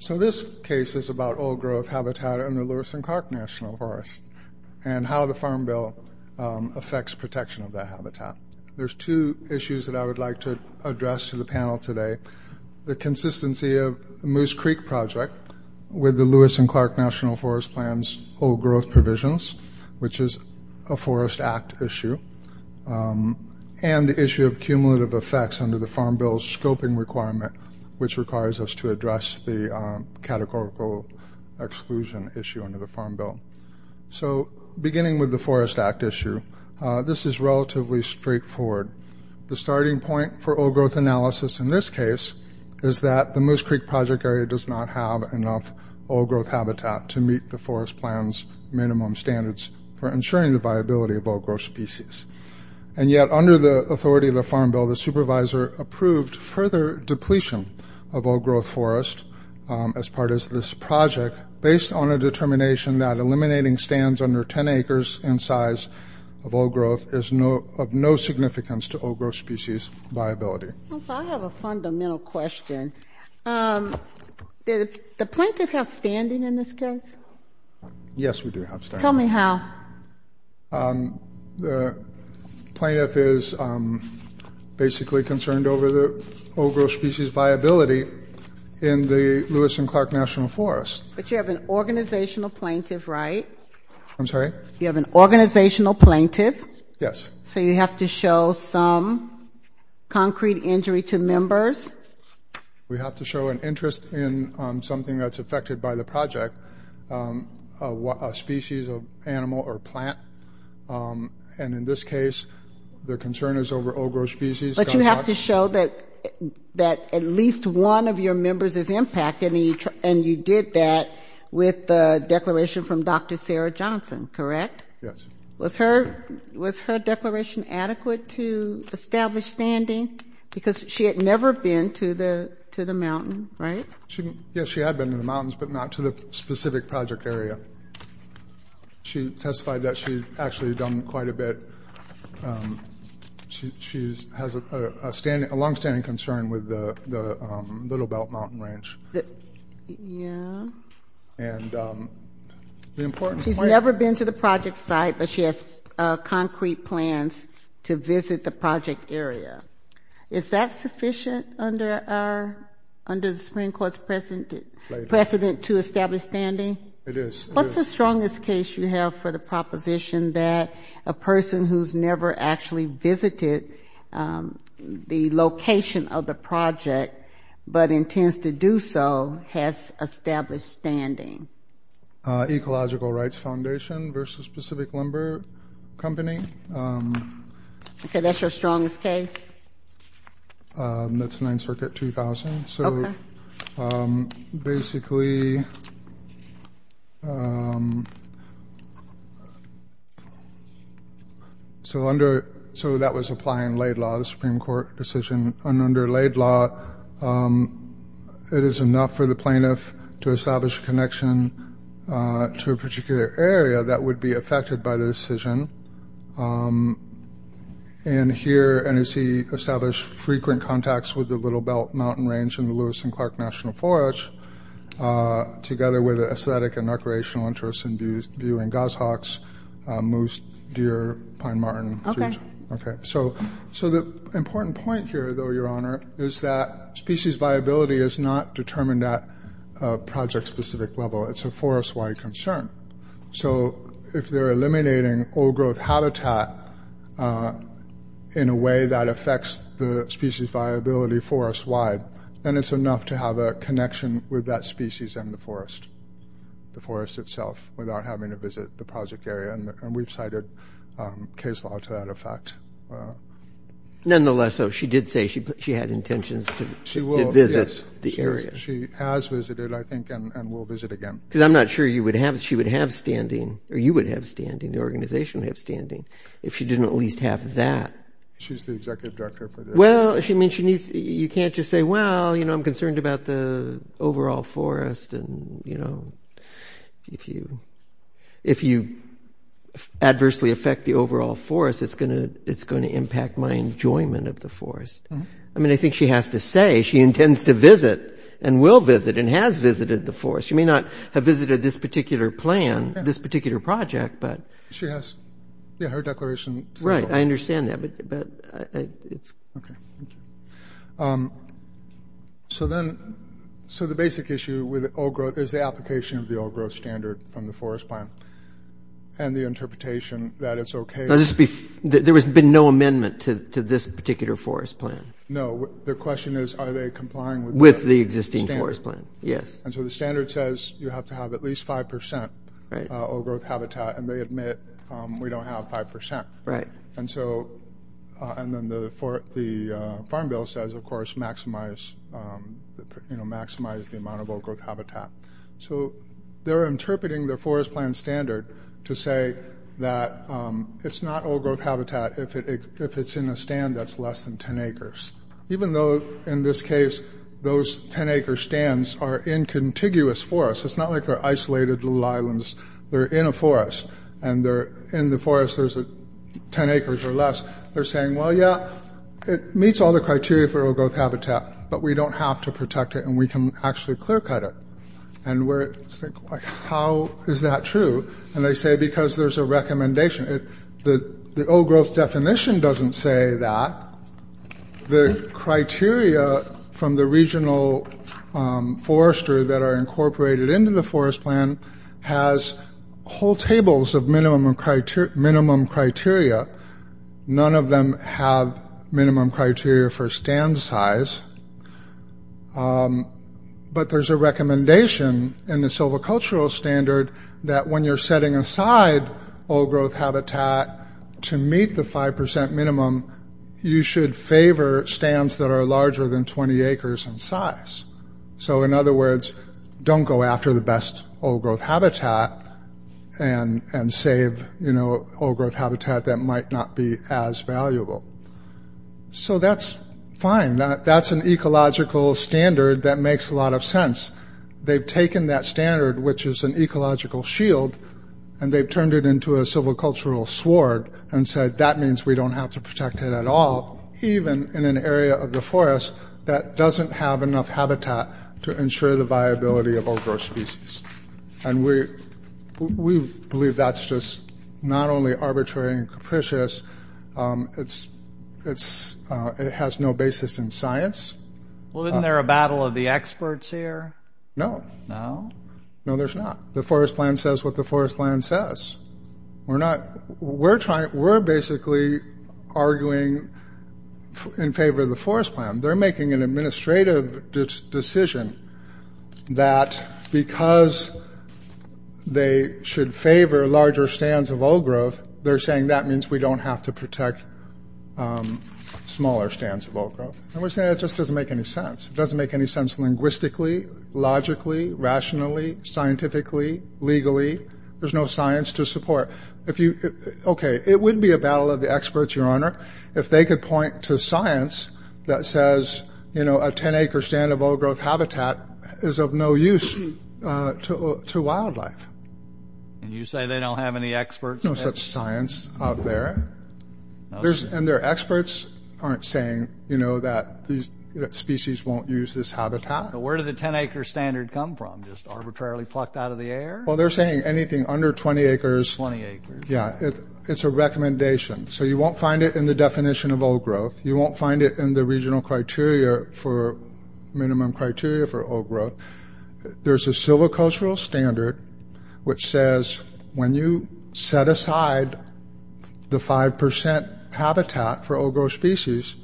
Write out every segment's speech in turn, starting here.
So this case is about old growth habitat in the Lewis and Clark National Forest and how the Farm Bill affects protection of that habitat. There's two issues that I would like to address to the panel today. The consistency of the Moose Creek Project with the Lewis and Clark National Forest Plan's old growth provisions, which is a Forest Act issue, and the issue of cumulative effects under the Farm Bill's scoping requirement, which requires us to address the categorical exclusion issue under the Farm Bill. So beginning with the Forest Act issue, this is relatively straightforward. The starting point for old growth analysis in this case is that the Moose Creek Project area does not have enough old growth habitat to meet the Forest Plan's minimum standards for ensuring the viability of old growth species. And yet under the authority of the Farm Bill, the supervisor approved further depletion of old growth forest as part of this project based on a determination that eliminating stands under 10 acres in size of old growth is of no significance to old growth species viability. I have a fundamental question. Do the planters have standing in this case? Yes, we do have standing. Tell me how. The plaintiff is basically concerned over the old growth species viability in the Lewis and Clark National Forest. But you have an organizational plaintiff, right? I'm sorry? You have an organizational plaintiff? Yes. So you have to show some concrete injury to members? We have to show an interest in something that's affected by the project, a species of animal or plant. And in this case, their concern is over old growth species. But you have to show that at least one of your members is impacted, and you did that with the declaration from Dr. Sarah Johnson, correct? Yes. Was her declaration adequate to establish standing? Because she had never been to the mountain, right? Yes, she had been to the mountains, but not to the specific project area. She testified that she's actually done quite a bit. She has a longstanding concern with the Little Belt Mountain Ranch. Yeah. And the important point is that she's never been to the project site, but she has concrete plans to visit the project area. Is that sufficient under the Supreme Court's precedent to establish standing? It is. What's the strongest case you have for the proposition that a person who's never actually visited the location of the project but intends to do so has established standing? Ecological Rights Foundation versus Pacific Lumber Company. Okay, that's your strongest case? That's 9th Circuit 2000. Okay. So basically, so that was applying laid law, the Supreme Court decision. Under laid law, it is enough for the plaintiff to establish a connection to a particular area that would be affected by the decision. And here, and as he established frequent contacts with the Little Belt Mountain Ranch and the Lewis and Clark National Forge, together with aesthetic and recreational interests in viewing goshawks, moose, deer, pine marten. Okay. Okay, so the important point here, though, Your Honor, is that species viability is not determined at a project-specific level. It's a forest-wide concern. So if they're eliminating old-growth habitat in a way that affects the species viability forest-wide, then it's enough to have a connection with that species and the forest, the forest itself, without having to visit the project area. And we've cited case law to that effect. Nonetheless, though, she did say she had intentions to visit the area. She has visited, I think, and will visit again. Because I'm not sure she would have standing, or you would have standing, the organization would have standing, if she didn't at least have that. She's the executive director. Well, I mean, you can't just say, well, you know, I'm concerned about the overall forest, and, you know, if you – if you adversely affect the overall forest, it's going to – it's going to impact my enjoyment of the forest. I mean, I think she has to say she intends to visit and will visit and has visited the forest. She may not have visited this particular plan, this particular project, but… She has – yeah, her declaration… Right. I understand that, but it's… Okay. So then – so the basic issue with old growth is the application of the old growth standard from the forest plan and the interpretation that it's okay… Now, this – there has been no amendment to this particular forest plan. No. The question is, are they complying with the… With the existing forest plan. Yes. And so the standard says you have to have at least 5% old growth habitat, and they admit we don't have 5%. Right. And so – and then the Farm Bill says, of course, maximize – you know, maximize the amount of old growth habitat. So they're interpreting the forest plan standard to say that it's not old growth habitat if it's in a stand that's less than 10 acres, even though, in this case, those 10-acre stands are in contiguous forests. It's not like they're isolated little islands. They're in a forest, and they're – in the forest, there's 10 acres or less. They're saying, well, yeah, it meets all the criteria for old growth habitat, but we don't have to protect it, and we can actually clear-cut it. And we're – how is that true? And they say because there's a recommendation. The old growth definition doesn't say that. The criteria from the regional forester that are incorporated into the forest plan has whole tables of minimum criteria. None of them have minimum criteria for stand size. But there's a recommendation in the silvicultural standard that, when you're setting aside old growth habitat to meet the 5% minimum, you should favor stands that are larger than 20 acres in size. So, in other words, don't go after the best old growth habitat and save, you know, old growth habitat that might not be as valuable. So that's fine. That's an ecological standard that makes a lot of sense. They've taken that standard, which is an ecological shield, and they've turned it into a silvicultural sward and said, that means we don't have to protect it at all, even in an area of the forest that doesn't have enough habitat to ensure the viability of old growth species. And we believe that's just not only arbitrary and capricious, it has no basis in science. Well, isn't there a battle of the experts here? No. No? No, there's not. The forest plan says what the forest plan says. We're not – we're basically arguing in favor of the forest plan. They're making an administrative decision that because they should favor larger stands of old growth, they're saying that means we don't have to protect smaller stands of old growth. And we're saying that just doesn't make any sense. It doesn't make any sense linguistically, logically, rationally, scientifically, legally. There's no science to support. Okay, it would be a battle of the experts, Your Honor, if they could point to science that says, you know, a 10-acre stand of old growth habitat is of no use to wildlife. And you say they don't have any experts? No such science out there. And their experts aren't saying, you know, that species won't use this habitat. Where did the 10-acre standard come from? Just arbitrarily plucked out of the air? Well, they're saying anything under 20 acres. 20 acres. Yeah, it's a recommendation. So you won't find it in the definition of old growth. You won't find it in the regional criteria for minimum criteria for old growth. There's a silvicultural standard which says when you set aside the 5% habitat for old growth species,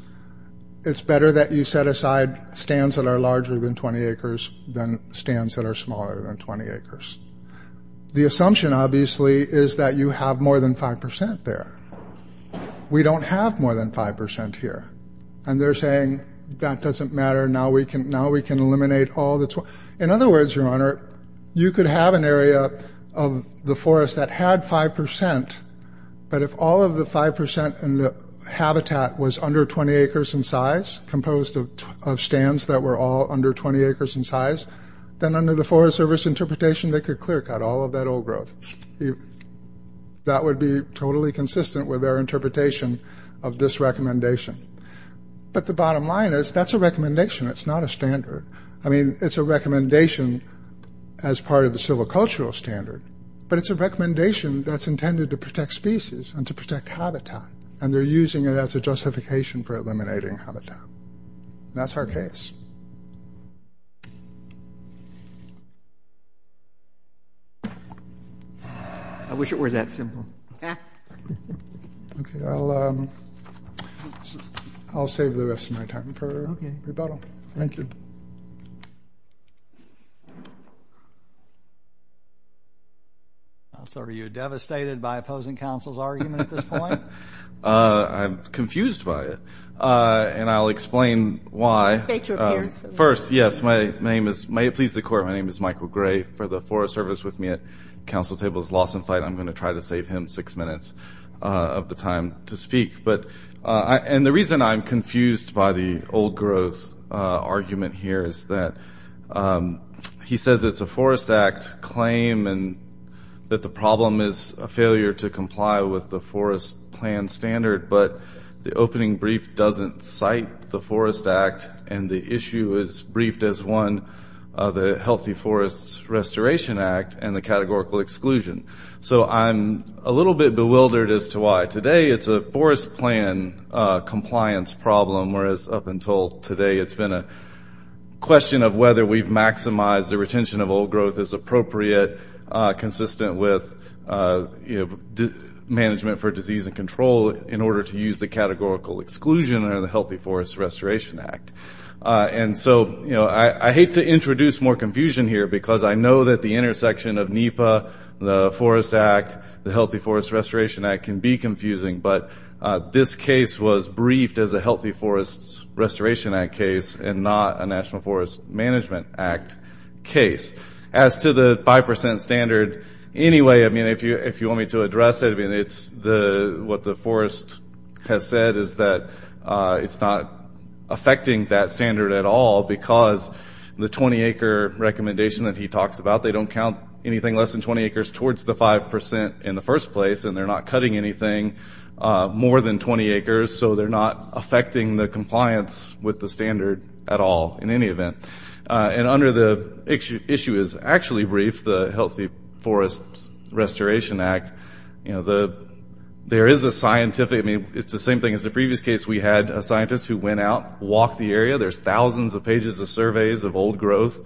it's better that you set aside stands that are larger than 20 acres than stands that are smaller than 20 acres. The assumption, obviously, is that you have more than 5% there. We don't have more than 5% here. And they're saying that doesn't matter. Now we can eliminate all the 12. In other words, Your Honor, you could have an area of the forest that had 5%, but if all of the 5% in the habitat was under 20 acres in size, composed of stands that were all under 20 acres in size, then under the Forest Service interpretation, they could clear cut all of that old growth. That would be totally consistent with their interpretation of this recommendation. But the bottom line is that's a recommendation. It's not a standard. I mean, it's a recommendation as part of the silvicultural standard, but it's a recommendation that's intended to protect species and to protect habitat, and they're using it as a justification for eliminating habitat. That's our case. I wish it were that simple. Okay. I'll save the rest of my time for rebuttal. Thank you. So are you devastated by opposing counsel's argument at this point? I'm confused by it. And I'll explain why. Make your appearance. First, yes, may it please the Court, my name is Michael Gray. For the Forest Service, with me at counsel table is Lawson Flight. I'm going to try to save him six minutes of the time to speak. And the reason I'm confused by the old growth argument here is that he says it's a Forest Act claim and that the problem is a failure to comply with the forest plan standard, but the opening brief doesn't cite the Forest Act, and the issue is briefed as one of the Healthy Forests Restoration Act and the categorical exclusion. So I'm a little bit bewildered as to why. Today it's a forest plan compliance problem, whereas up until today it's been a question of whether we've maximized the retention of old growth as appropriate, consistent with management for disease and control, in order to use the categorical exclusion under the Healthy Forests Restoration Act. And so I hate to introduce more confusion here because I know that the intersection of NEPA, the Forest Act, the Healthy Forests Restoration Act can be confusing, but this case was briefed as a Healthy Forests Restoration Act case and not a National Forest Management Act case. As to the 5% standard, anyway, if you want me to address it, what the forest has said is that it's not affecting that standard at all because the 20-acre recommendation that he talks about, they don't count anything less than 20 acres towards the 5% in the first place, and they're not cutting anything more than 20 acres, so they're not affecting the compliance with the standard at all in any event. And under the issue is actually briefed, the Healthy Forests Restoration Act, there is a scientific... I mean, it's the same thing as the previous case. We had a scientist who went out, walked the area. There's thousands of pages of surveys of old growth.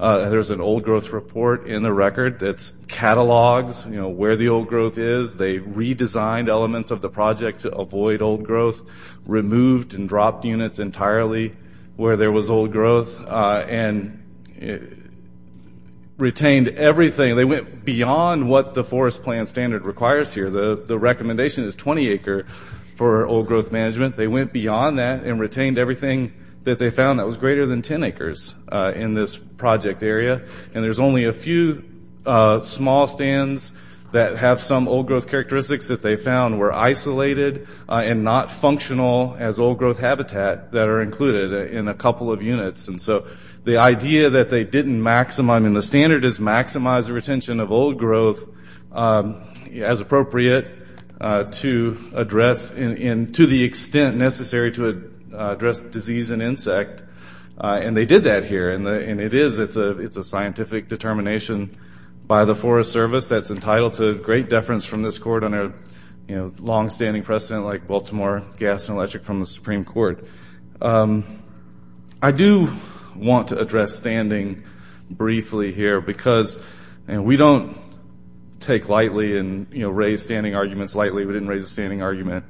There's an old growth report in the record that catalogs where the old growth is. They redesigned elements of the project to avoid old growth, removed and dropped units entirely where there was old growth, and retained everything. They went beyond what the forest plan standard requires here. The recommendation is 20 acre for old growth management. They went beyond that and retained everything that they found that was greater than 10 acres in this project area, and there's only a few small stands that have some old growth characteristics that they found were isolated and not functional as old growth habitat that are included in a couple of units. And so the idea that they didn't maximize... I mean, the standard is maximize the retention of old growth as appropriate to address and to the extent necessary to address disease and insect, and they did that here, and it is. It's a scientific determination by the Forest Service. That's entitled to great deference from this court on a longstanding precedent like Baltimore Gas and Electric from the Supreme Court. I do want to address standing briefly here because we don't take lightly and raise standing arguments lightly. We didn't raise a standing argument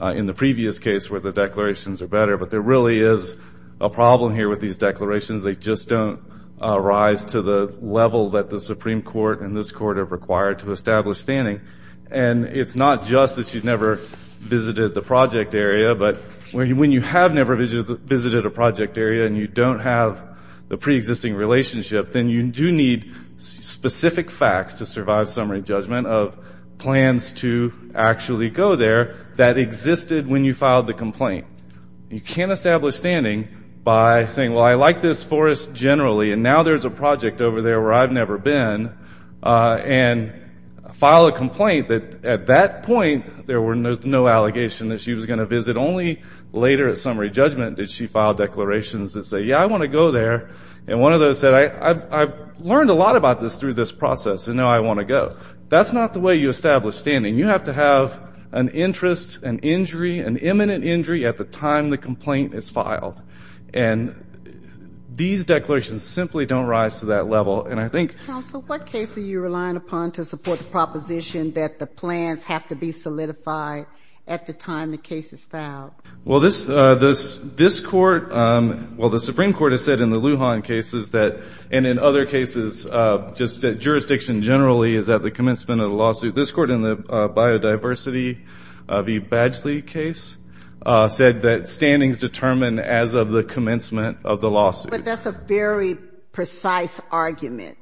in the previous case where the declarations are better, but there really is a problem here with these declarations. They just don't rise to the level that the Supreme Court and this court have required to establish standing. And it's not just that you've never visited the project area, but when you have never visited a project area and you don't have the preexisting relationship, then you do need specific facts to survive summary judgment of plans to actually go there that existed when you filed the complaint. You can't establish standing by saying, Well, I like this forest generally, and now there's a project over there where I've never been, and file a complaint that at that point there were no allegations that she was going to visit. Only later at summary judgment did she file declarations that say, Yeah, I want to go there. And one of those said, I've learned a lot about this through this process, and now I want to go. That's not the way you establish standing. You have to have an interest, an injury, an imminent injury at the time the complaint is filed. And these declarations simply don't rise to that level. And I think... Counsel, what case are you relying upon to support the proposition that the plans have to be solidified at the time the case is filed? Well, this court, well, the Supreme Court has said in the Lujan cases that, and in other cases, just jurisdiction generally, is at the commencement of the lawsuit. This court, in the Biodiversity v. Badgley case, said that standings determine as of the commencement of the lawsuit. But that's a very precise argument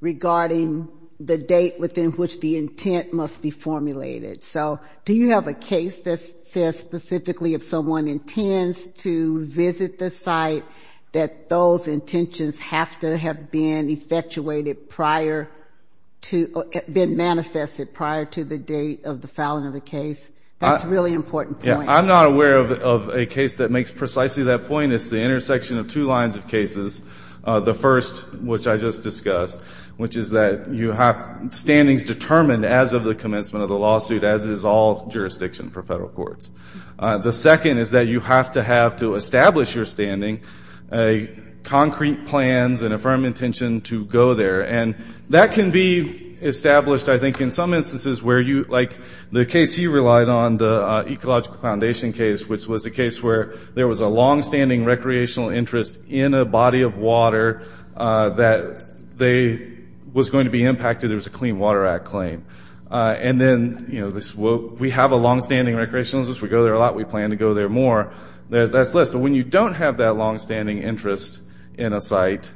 regarding the date within which the intent must be formulated. So do you have a case that says specifically if someone intends to visit the site, that those intentions have to have been effectuated prior to, been manifested prior to the date of the filing of the case? That's a really important point. I'm not aware of a case that makes precisely that point. It's the intersection of two lines of cases. The first, which I just discussed, which is that you have standings determined as of the commencement of the lawsuit, as is all jurisdiction for federal courts. The second is that you have to have, to establish your standing, concrete plans and a firm intention to go there. And that can be established, I think, in some instances where you, like the case you relied on, the Ecological Foundation case, which was a case where there was a longstanding recreational interest in a body of water that was going to be impacted. There was a Clean Water Act claim. And then we have a longstanding recreational interest. We go there a lot. We plan to go there more. That's this. But when you don't have that longstanding interest in a site,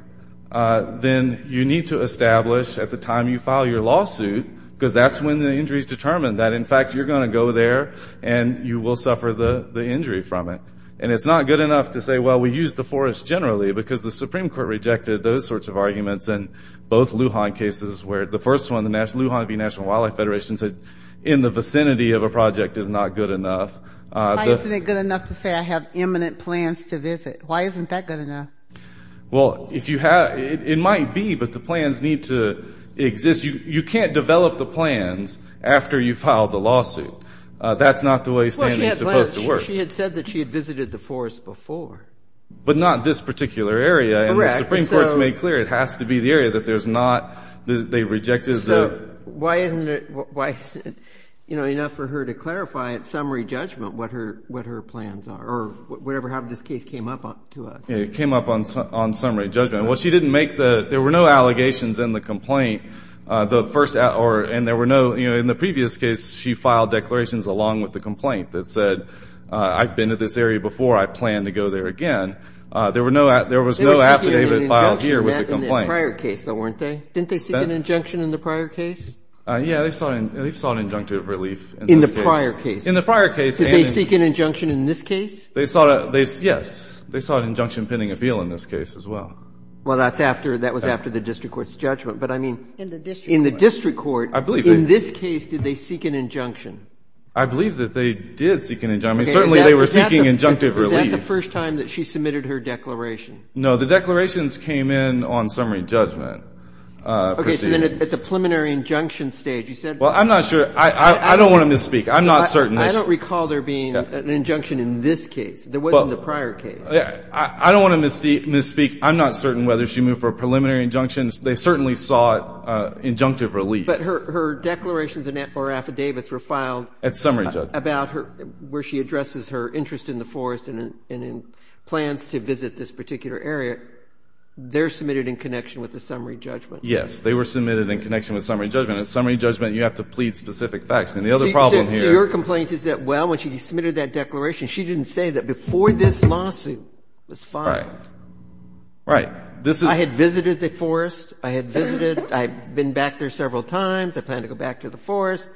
then you need to establish at the time you file your lawsuit, because that's when the injury is determined, that in fact you're going to go there and you will suffer the injury from it. And it's not good enough to say, well, we used the forest generally, because the Supreme Court rejected those sorts of arguments in both Lujan cases, where the first one, the Lujan National Wildlife Federation said, in the vicinity of a project is not good enough. Why isn't it good enough to say I have imminent plans to visit? Why isn't that good enough? Well, it might be, but the plans need to exist. You can't develop the plans after you file the lawsuit. That's not the way standing is supposed to work. Well, she had said that she had visited the forest before. But not this particular area. Correct. The Supreme Court has made clear it has to be the area that they rejected. So why isn't it enough for her to clarify at summary judgment what her plans are, or whatever happened to this case came up to us? It came up on summary judgment. Well, she didn't make the – there were no allegations in the complaint. And there were no – in the previous case, she filed declarations along with the complaint that said, I've been to this area before. I plan to go there again. There were no – there was no affidavit filed here with the complaint. They were seeking an injunction in the prior case, though, weren't they? Didn't they seek an injunction in the prior case? Yeah. They sought an injunctive relief in this case. In the prior case. In the prior case. Did they seek an injunction in this case? They sought a – yes. They sought an injunction pending appeal in this case as well. Well, that's after – that was after the district court's judgment. But, I mean, in the district court, in this case, did they seek an injunction? I believe that they did seek an injunction. I mean, certainly they were seeking injunctive relief. Is that the first time that she submitted her declaration? No. The declarations came in on summary judgment proceedings. Okay. So then at the preliminary injunction stage, you said – Well, I'm not sure – I don't want to misspeak. I'm not certain. I don't recall there being an injunction in this case. There was in the prior case. I don't want to misspeak. I'm not certain whether she moved for a preliminary injunction. They certainly sought injunctive relief. But her declarations or affidavits were filed – At summary judgment. About her – where she addresses her interest in the forest and in plans to visit this particular area, they're submitted in connection with the summary judgment. Yes. They were submitted in connection with summary judgment. At summary judgment, you have to plead specific facts. I mean, the other problem here – So your complaint is that, well, when she submitted that declaration, she didn't say that before this lawsuit was filed. Right. Right. This is – I had visited the forest. I had visited. I've been back there several times. I plan to go back to the forest.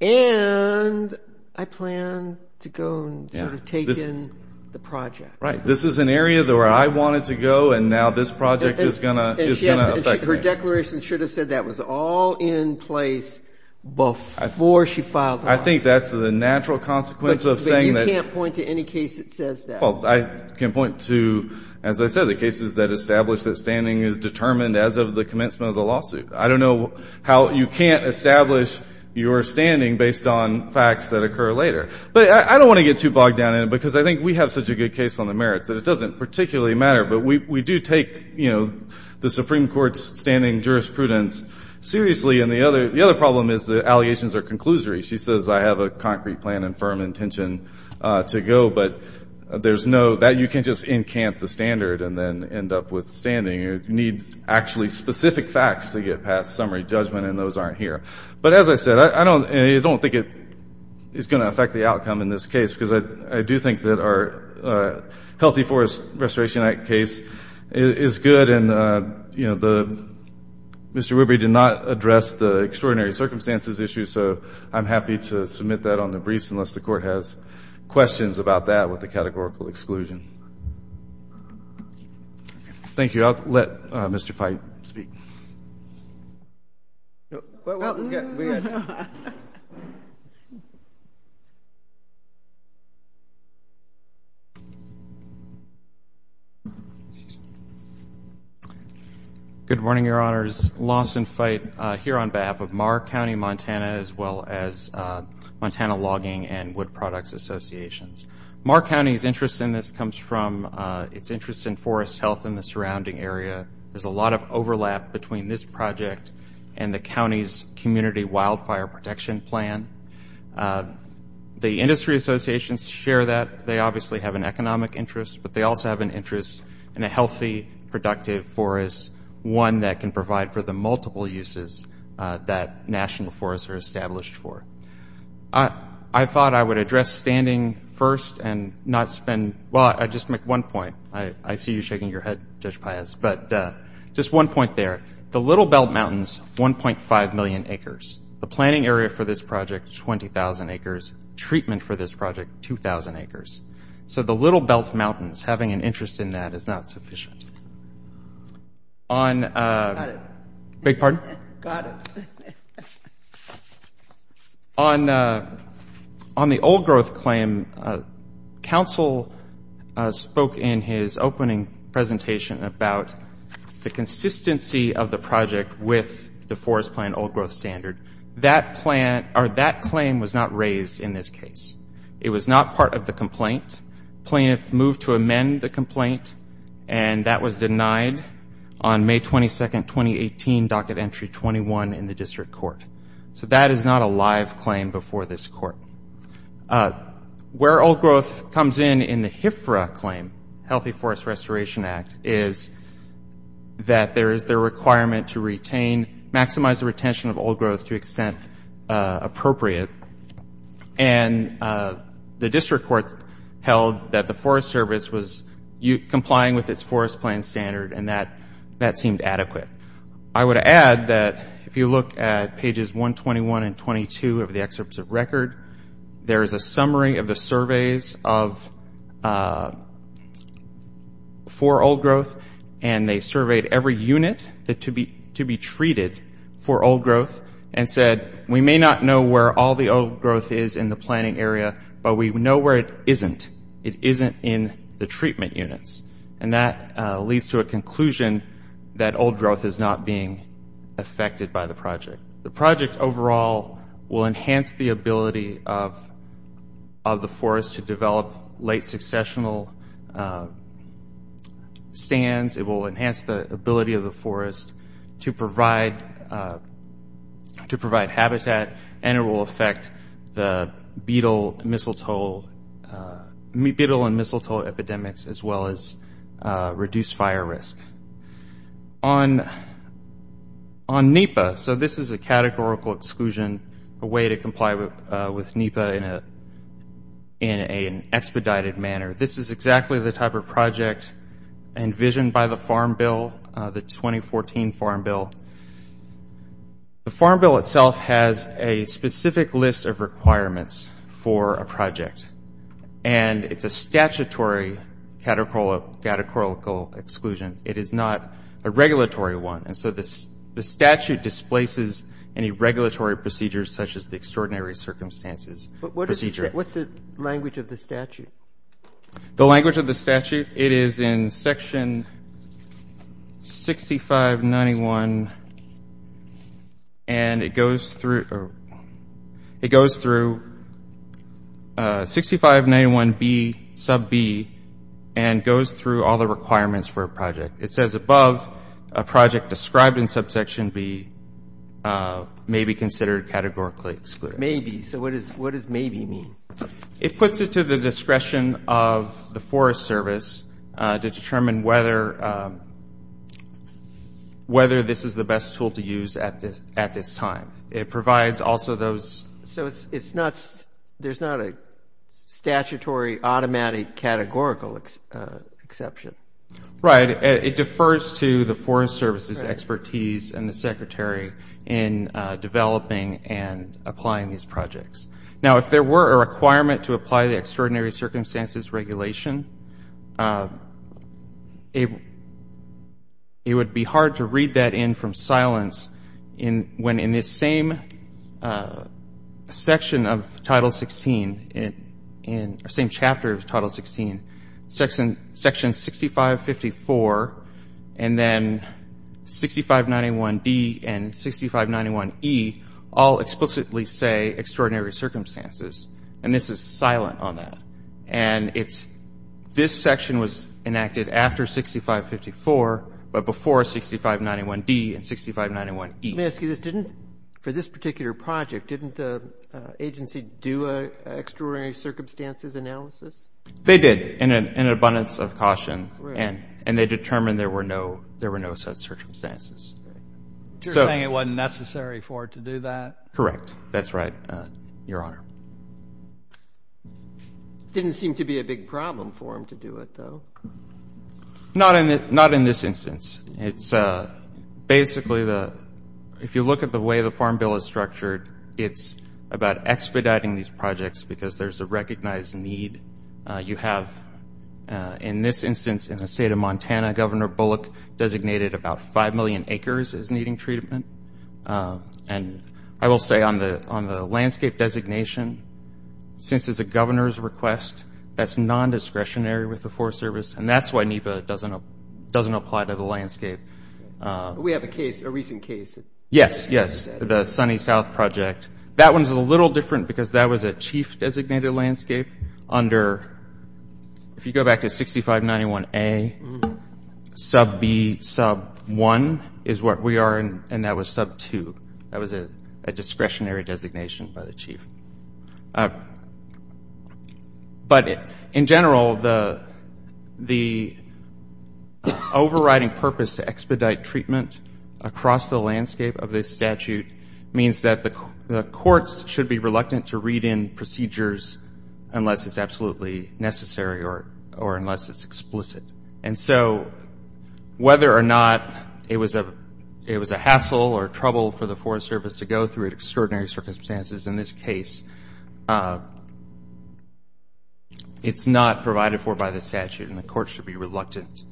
And I plan to go and sort of take in the project. Right. This is an area where I wanted to go, and now this project is going to affect me. And her declaration should have said that. It was all in place before she filed the lawsuit. I think that's the natural consequence of saying that – But you can't point to any case that says that. Well, I can point to, as I said, the cases that establish that standing is determined as of the commencement of the lawsuit. I don't know how you can't establish your standing based on facts that occur later. But I don't want to get too bogged down in it because I think we have such a good case on the merits that it doesn't particularly matter. But we do take the Supreme Court's standing jurisprudence seriously. And the other problem is the allegations are conclusory. She says, I have a concrete plan and firm intention to go, but there's no – that you can't just encamp the standard and then end up with standing. You need actually specific facts to get past summary judgment, and those aren't here. But as I said, I don't think it's going to affect the outcome in this case because I do think that our Healthy Forest Restoration Act case is good. And, you know, Mr. Wibery did not address the extraordinary circumstances issue, so I'm happy to submit that on the briefs unless the Court has questions about that with the categorical exclusion. Thank you. I'll let Mr. Fite speak. Good morning, Your Honors. Lawson Fite here on behalf of Marr County, Montana, as well as Montana Logging and Wood Products Associations. Marr County's interest in this comes from its interest in forest health in the surrounding area. There's a lot of overlap between this project and the county's community wildfire protection plan. The industry associations share that. They obviously have an economic interest, but they also have an interest in a healthy, productive forest, one that can provide for the multiple uses that national forests are established for. I thought I would address standing first and not spend ñ well, I'd just make one point. I see you shaking your head, Judge Paez, but just one point there. The Little Belt Mountains, 1.5 million acres. The planning area for this project, 20,000 acres. Treatment for this project, 2,000 acres. So the Little Belt Mountains, having an interest in that is not sufficient. Got it. Big pardon? Got it. On the old growth claim, counsel spoke in his opening presentation about the consistency of the project with the forest plan old growth standard. That claim was not raised in this case. It was not part of the complaint. The plaintiff moved to amend the complaint, and that was denied on May 22, 2018, docket entry 21 in the district court. So that is not a live claim before this court. Where old growth comes in in the HFRA claim, Healthy Forest Restoration Act, is that there is the requirement to retain, maximize the retention of old growth to extent appropriate. And the district court held that the Forest Service was complying with its forest plan standard, and that seemed adequate. I would add that if you look at pages 121 and 22 of the excerpts of record, there is a summary of the surveys for old growth, and they surveyed every unit to be treated for old growth and said, we may not know where all the old growth is in the planning area, but we know where it isn't. It isn't in the treatment units. And that leads to a conclusion that old growth is not being affected by the project. The project overall will enhance the ability of the forest to develop late successional stands. It will enhance the ability of the forest to provide habitat, and it will affect the beetle and mistletoe epidemics as well as reduce fire risk. On NEPA, so this is a categorical exclusion, a way to comply with NEPA in an expedited manner. This is exactly the type of project envisioned by the Farm Bill, the 2014 Farm Bill. The Farm Bill itself has a specific list of requirements for a project, and it's a statutory categorical exclusion. It is not a regulatory one, and so the statute displaces any regulatory procedures such as the extraordinary circumstances procedure. What's the language of the statute? The language of the statute, it is in section 6591, and it goes through 6591B, sub B, and goes through all the requirements for a project. It says above, a project described in subsection B may be considered categorically excluded. But maybe, so what does maybe mean? It puts it to the discretion of the Forest Service to determine whether this is the best tool to use at this time. It provides also those. So there's not a statutory automatic categorical exception? Right. It defers to the Forest Service's expertise and the Secretary in developing and applying these projects. Now, if there were a requirement to apply the extraordinary circumstances regulation, it would be hard to read that in from silence when in this same section of Title 16, or same chapter of Title 16, section 6554, and then 6591D and 6591E all explicitly say extraordinary circumstances, and this is silent on that. And it's this section was enacted after 6554, but before 6591D and 6591E. Let me ask you this. For this particular project, didn't the agency do an extraordinary circumstances analysis? They did in an abundance of caution, and they determined there were no such circumstances. So you're saying it wasn't necessary for it to do that? Correct. That's right, Your Honor. Didn't seem to be a big problem for them to do it, though. Not in this instance. Basically, if you look at the way the Farm Bill is structured, it's about expediting these projects because there's a recognized need. You have, in this instance, in the state of Montana, Governor Bullock designated about 5 million acres as needing treatment. And I will say on the landscape designation, since it's a governor's request, that's non-discretionary with the Forest Service, and that's why NEPA doesn't apply to the landscape. We have a case, a recent case. Yes, yes, the Sunny South Project. That one's a little different because that was a chief-designated landscape under – if you go back to 6591A, sub-B, sub-1 is where we are, and that was sub-2. That was a discretionary designation by the chief. But in general, the overriding purpose to expedite treatment across the landscape of this statute means that the courts should be reluctant to read in procedures unless it's absolutely necessary or unless it's explicit. And so whether or not it was a hassle or trouble for the Forest Service to go through extraordinary circumstances in this case, it's not provided for by the statute, and the courts should be reluctant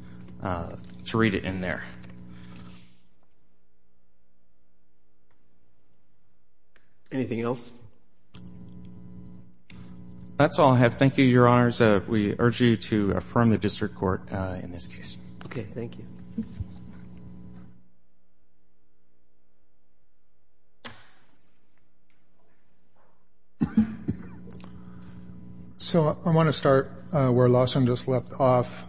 to read it in there. Anything else? That's all I have. Thank you, Your Honors. We urge you to affirm the district court in this case. Okay, thank you. So I want to start where Lawson just left off.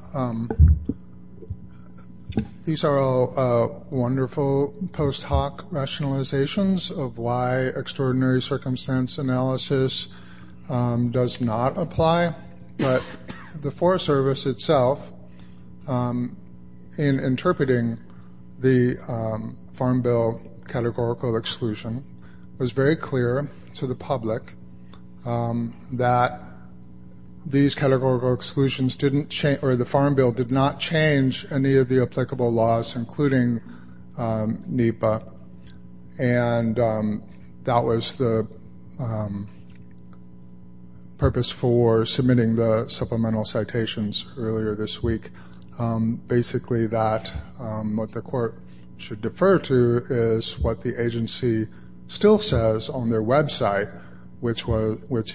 These are all wonderful post-hoc rationalizations of why extraordinary circumstance analysis does not apply. But the Forest Service itself, in interpreting the Farm Bill categorical exclusion, was very clear to the public that these categorical exclusions didn't – or the Farm Bill did not change any of the applicable laws, including NEPA, and that was the purpose for submitting the supplemental citations earlier this week, basically that what the court should defer to is what the agency still says on their website, which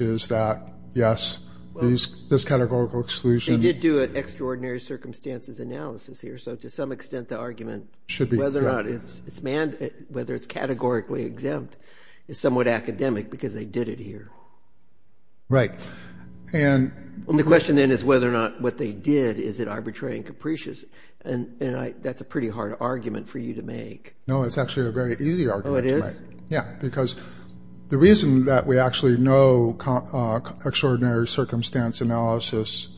is that, yes, this categorical exclusion – They did do an extraordinary circumstances analysis here, so to some extent the argument whether it's categorically exempt is somewhat academic because they did it here. Right. And the question then is whether or not what they did, is it arbitrary and capricious? And that's a pretty hard argument for you to make. No, it's actually a very easy argument to make. Oh, it is? Yeah, because the reason that we actually know extraordinary circumstance analysis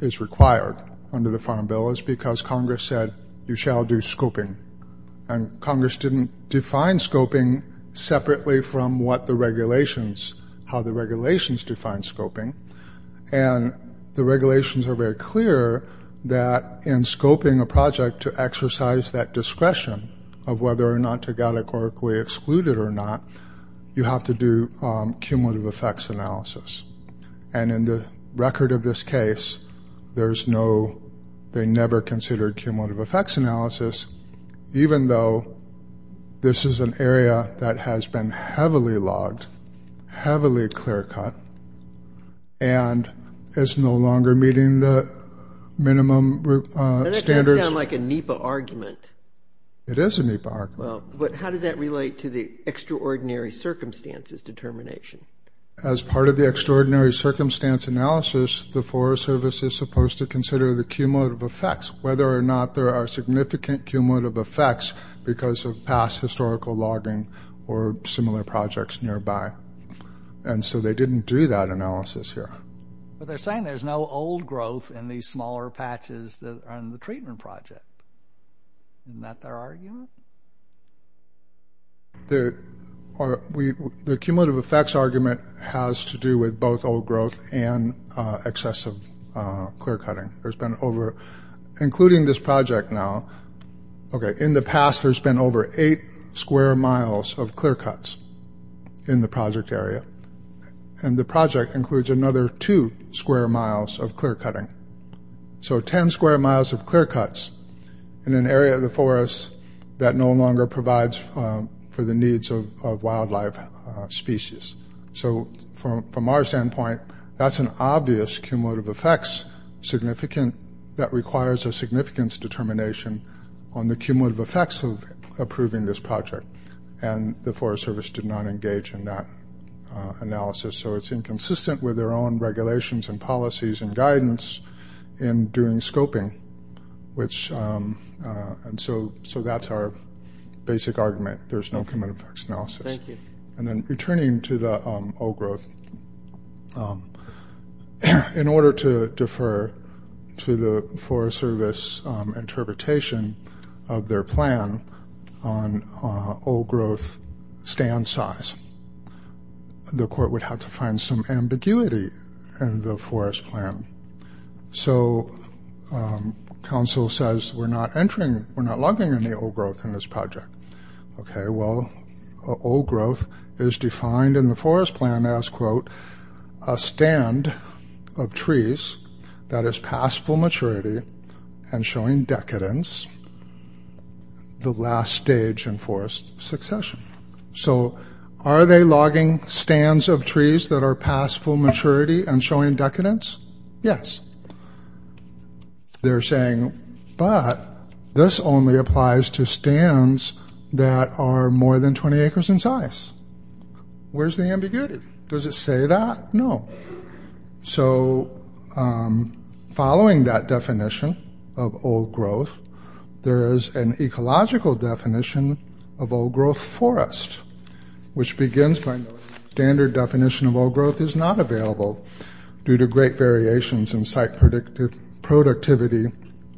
is required under the Farm Bill is because Congress said, you shall do scoping. And Congress didn't define scoping separately from what the regulations – how the regulations define scoping. And the regulations are very clear that in scoping a project to exercise that discretion of whether or not to categorically exclude it or not, you have to do cumulative effects analysis. And in the record of this case, there's no – they never considered cumulative effects analysis, even though this is an area that has been heavily logged, heavily clear-cut, and is no longer meeting the minimum standards. That does sound like a NEPA argument. It is a NEPA argument. Well, how does that relate to the extraordinary circumstances determination? As part of the extraordinary circumstance analysis, the Forest Service is supposed to consider the cumulative effects, whether or not there are significant cumulative effects because of past historical logging or similar projects nearby. And so they didn't do that analysis here. But they're saying there's no old growth in these smaller patches on the treatment project. Isn't that their argument? The cumulative effects argument has to do with both old growth and excessive clear-cutting. There's been over – including this project now – okay, in the past, there's been over eight square miles of clear-cuts in the project area. And the project includes another two square miles of clear-cutting. So ten square miles of clear-cuts in an area of the forest that no longer provides for the needs of wildlife species. So from our standpoint, that's an obvious cumulative effects significant that requires a significance determination on the cumulative effects of approving this project. And the Forest Service did not engage in that analysis. So it's inconsistent with their own regulations and policies and guidance in doing scoping, which – and so that's our basic argument. There's no cumulative effects analysis. Thank you. And then returning to the old growth, in order to defer to the Forest Service interpretation of their plan on old growth stand size, the court would have to find some ambiguity in the forest plan. So counsel says, we're not entering – we're not logging any old growth in this project. Okay, well, old growth is defined in the forest plan as, quote, a stand of trees that has passed full maturity and showing decadence, the last stage in forest succession. So are they logging stands of trees that are past full maturity and showing decadence? Yes. They're saying, but this only applies to stands that are more than 20 acres in size. Where's the ambiguity? Does it say that? No. So following that definition of old growth, there is an ecological definition of old growth forest, which begins by the standard definition of old growth is not available due to great variations in site productivity,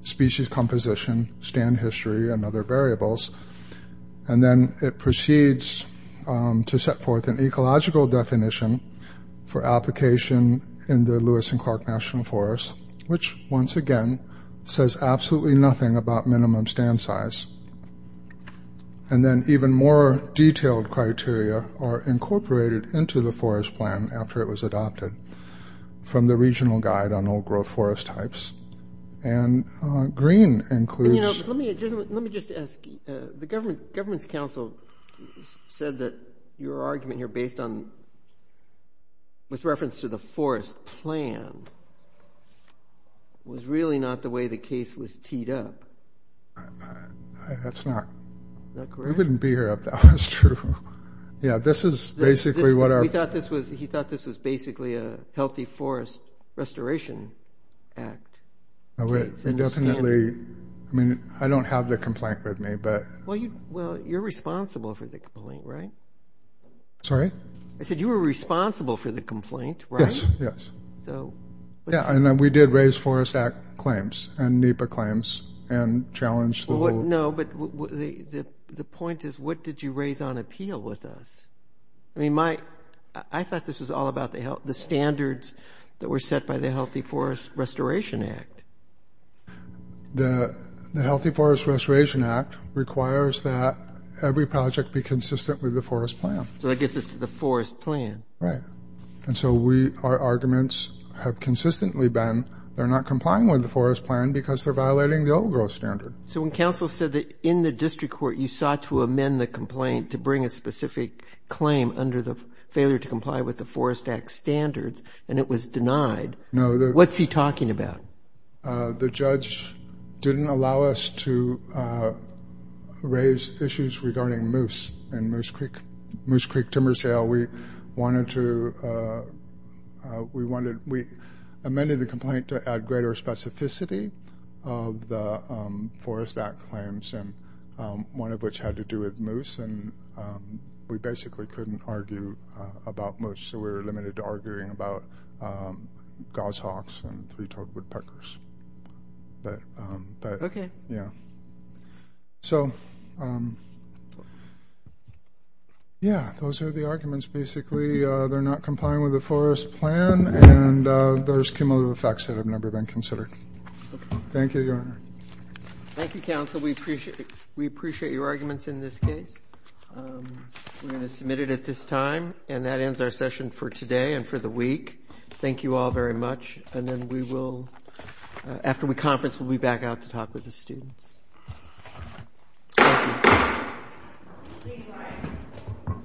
species composition, stand history, and other variables. And then it proceeds to set forth an ecological definition for application in the Lewis and Clark National Forest, which, once again, says absolutely nothing about minimum stand size. And then even more detailed criteria are incorporated into the forest plan after it was adopted from the Regional Guide on Old Growth Forest Types. And green includes… Let me just ask. The Governments Council said that your argument here based on, with reference to the forest plan, was really not the way the case was teed up. That's not. Is that correct? We wouldn't be here if that was true. Yeah, this is basically what our… He thought this was basically a healthy forest restoration act. Definitely. I mean, I don't have the complaint with me, but… Well, you're responsible for the complaint, right? Sorry? I said you were responsible for the complaint, right? Yes, yes. So… Yeah, and we did raise Forest Act claims and NEPA claims and challenged the rule. No, but the point is, what did you raise on appeal with us? I mean, I thought this was all about the standards that were set by the Healthy Forest Restoration Act. The Healthy Forest Restoration Act requires that every project be consistent with the forest plan. So that gets us to the forest plan. Right. And so our arguments have consistently been they're not complying with the forest plan because they're violating the old growth standard. So when Council said that in the district court you sought to amend the complaint to bring a specific claim under the failure to comply with the Forest Act standards and it was denied, what's he talking about? The judge didn't allow us to raise issues regarding moose in Moose Creek, Timbersdale. We amended the complaint to add greater specificity of the Forest Act claims, one of which had to do with moose, and we basically couldn't argue about moose. So we were limited to arguing about goshawks and three-toed woodpeckers. Okay. Yeah. So, yeah, those are the arguments. Basically they're not complying with the forest plan and there's cumulative effects that have never been considered. Thank you, Your Honor. Thank you, Counsel. We appreciate your arguments in this case. We're going to submit it at this time. And that ends our session for today and for the week. Thank you all very much. And then we will, after we conference, we'll be back out to talk with the students. Thank you.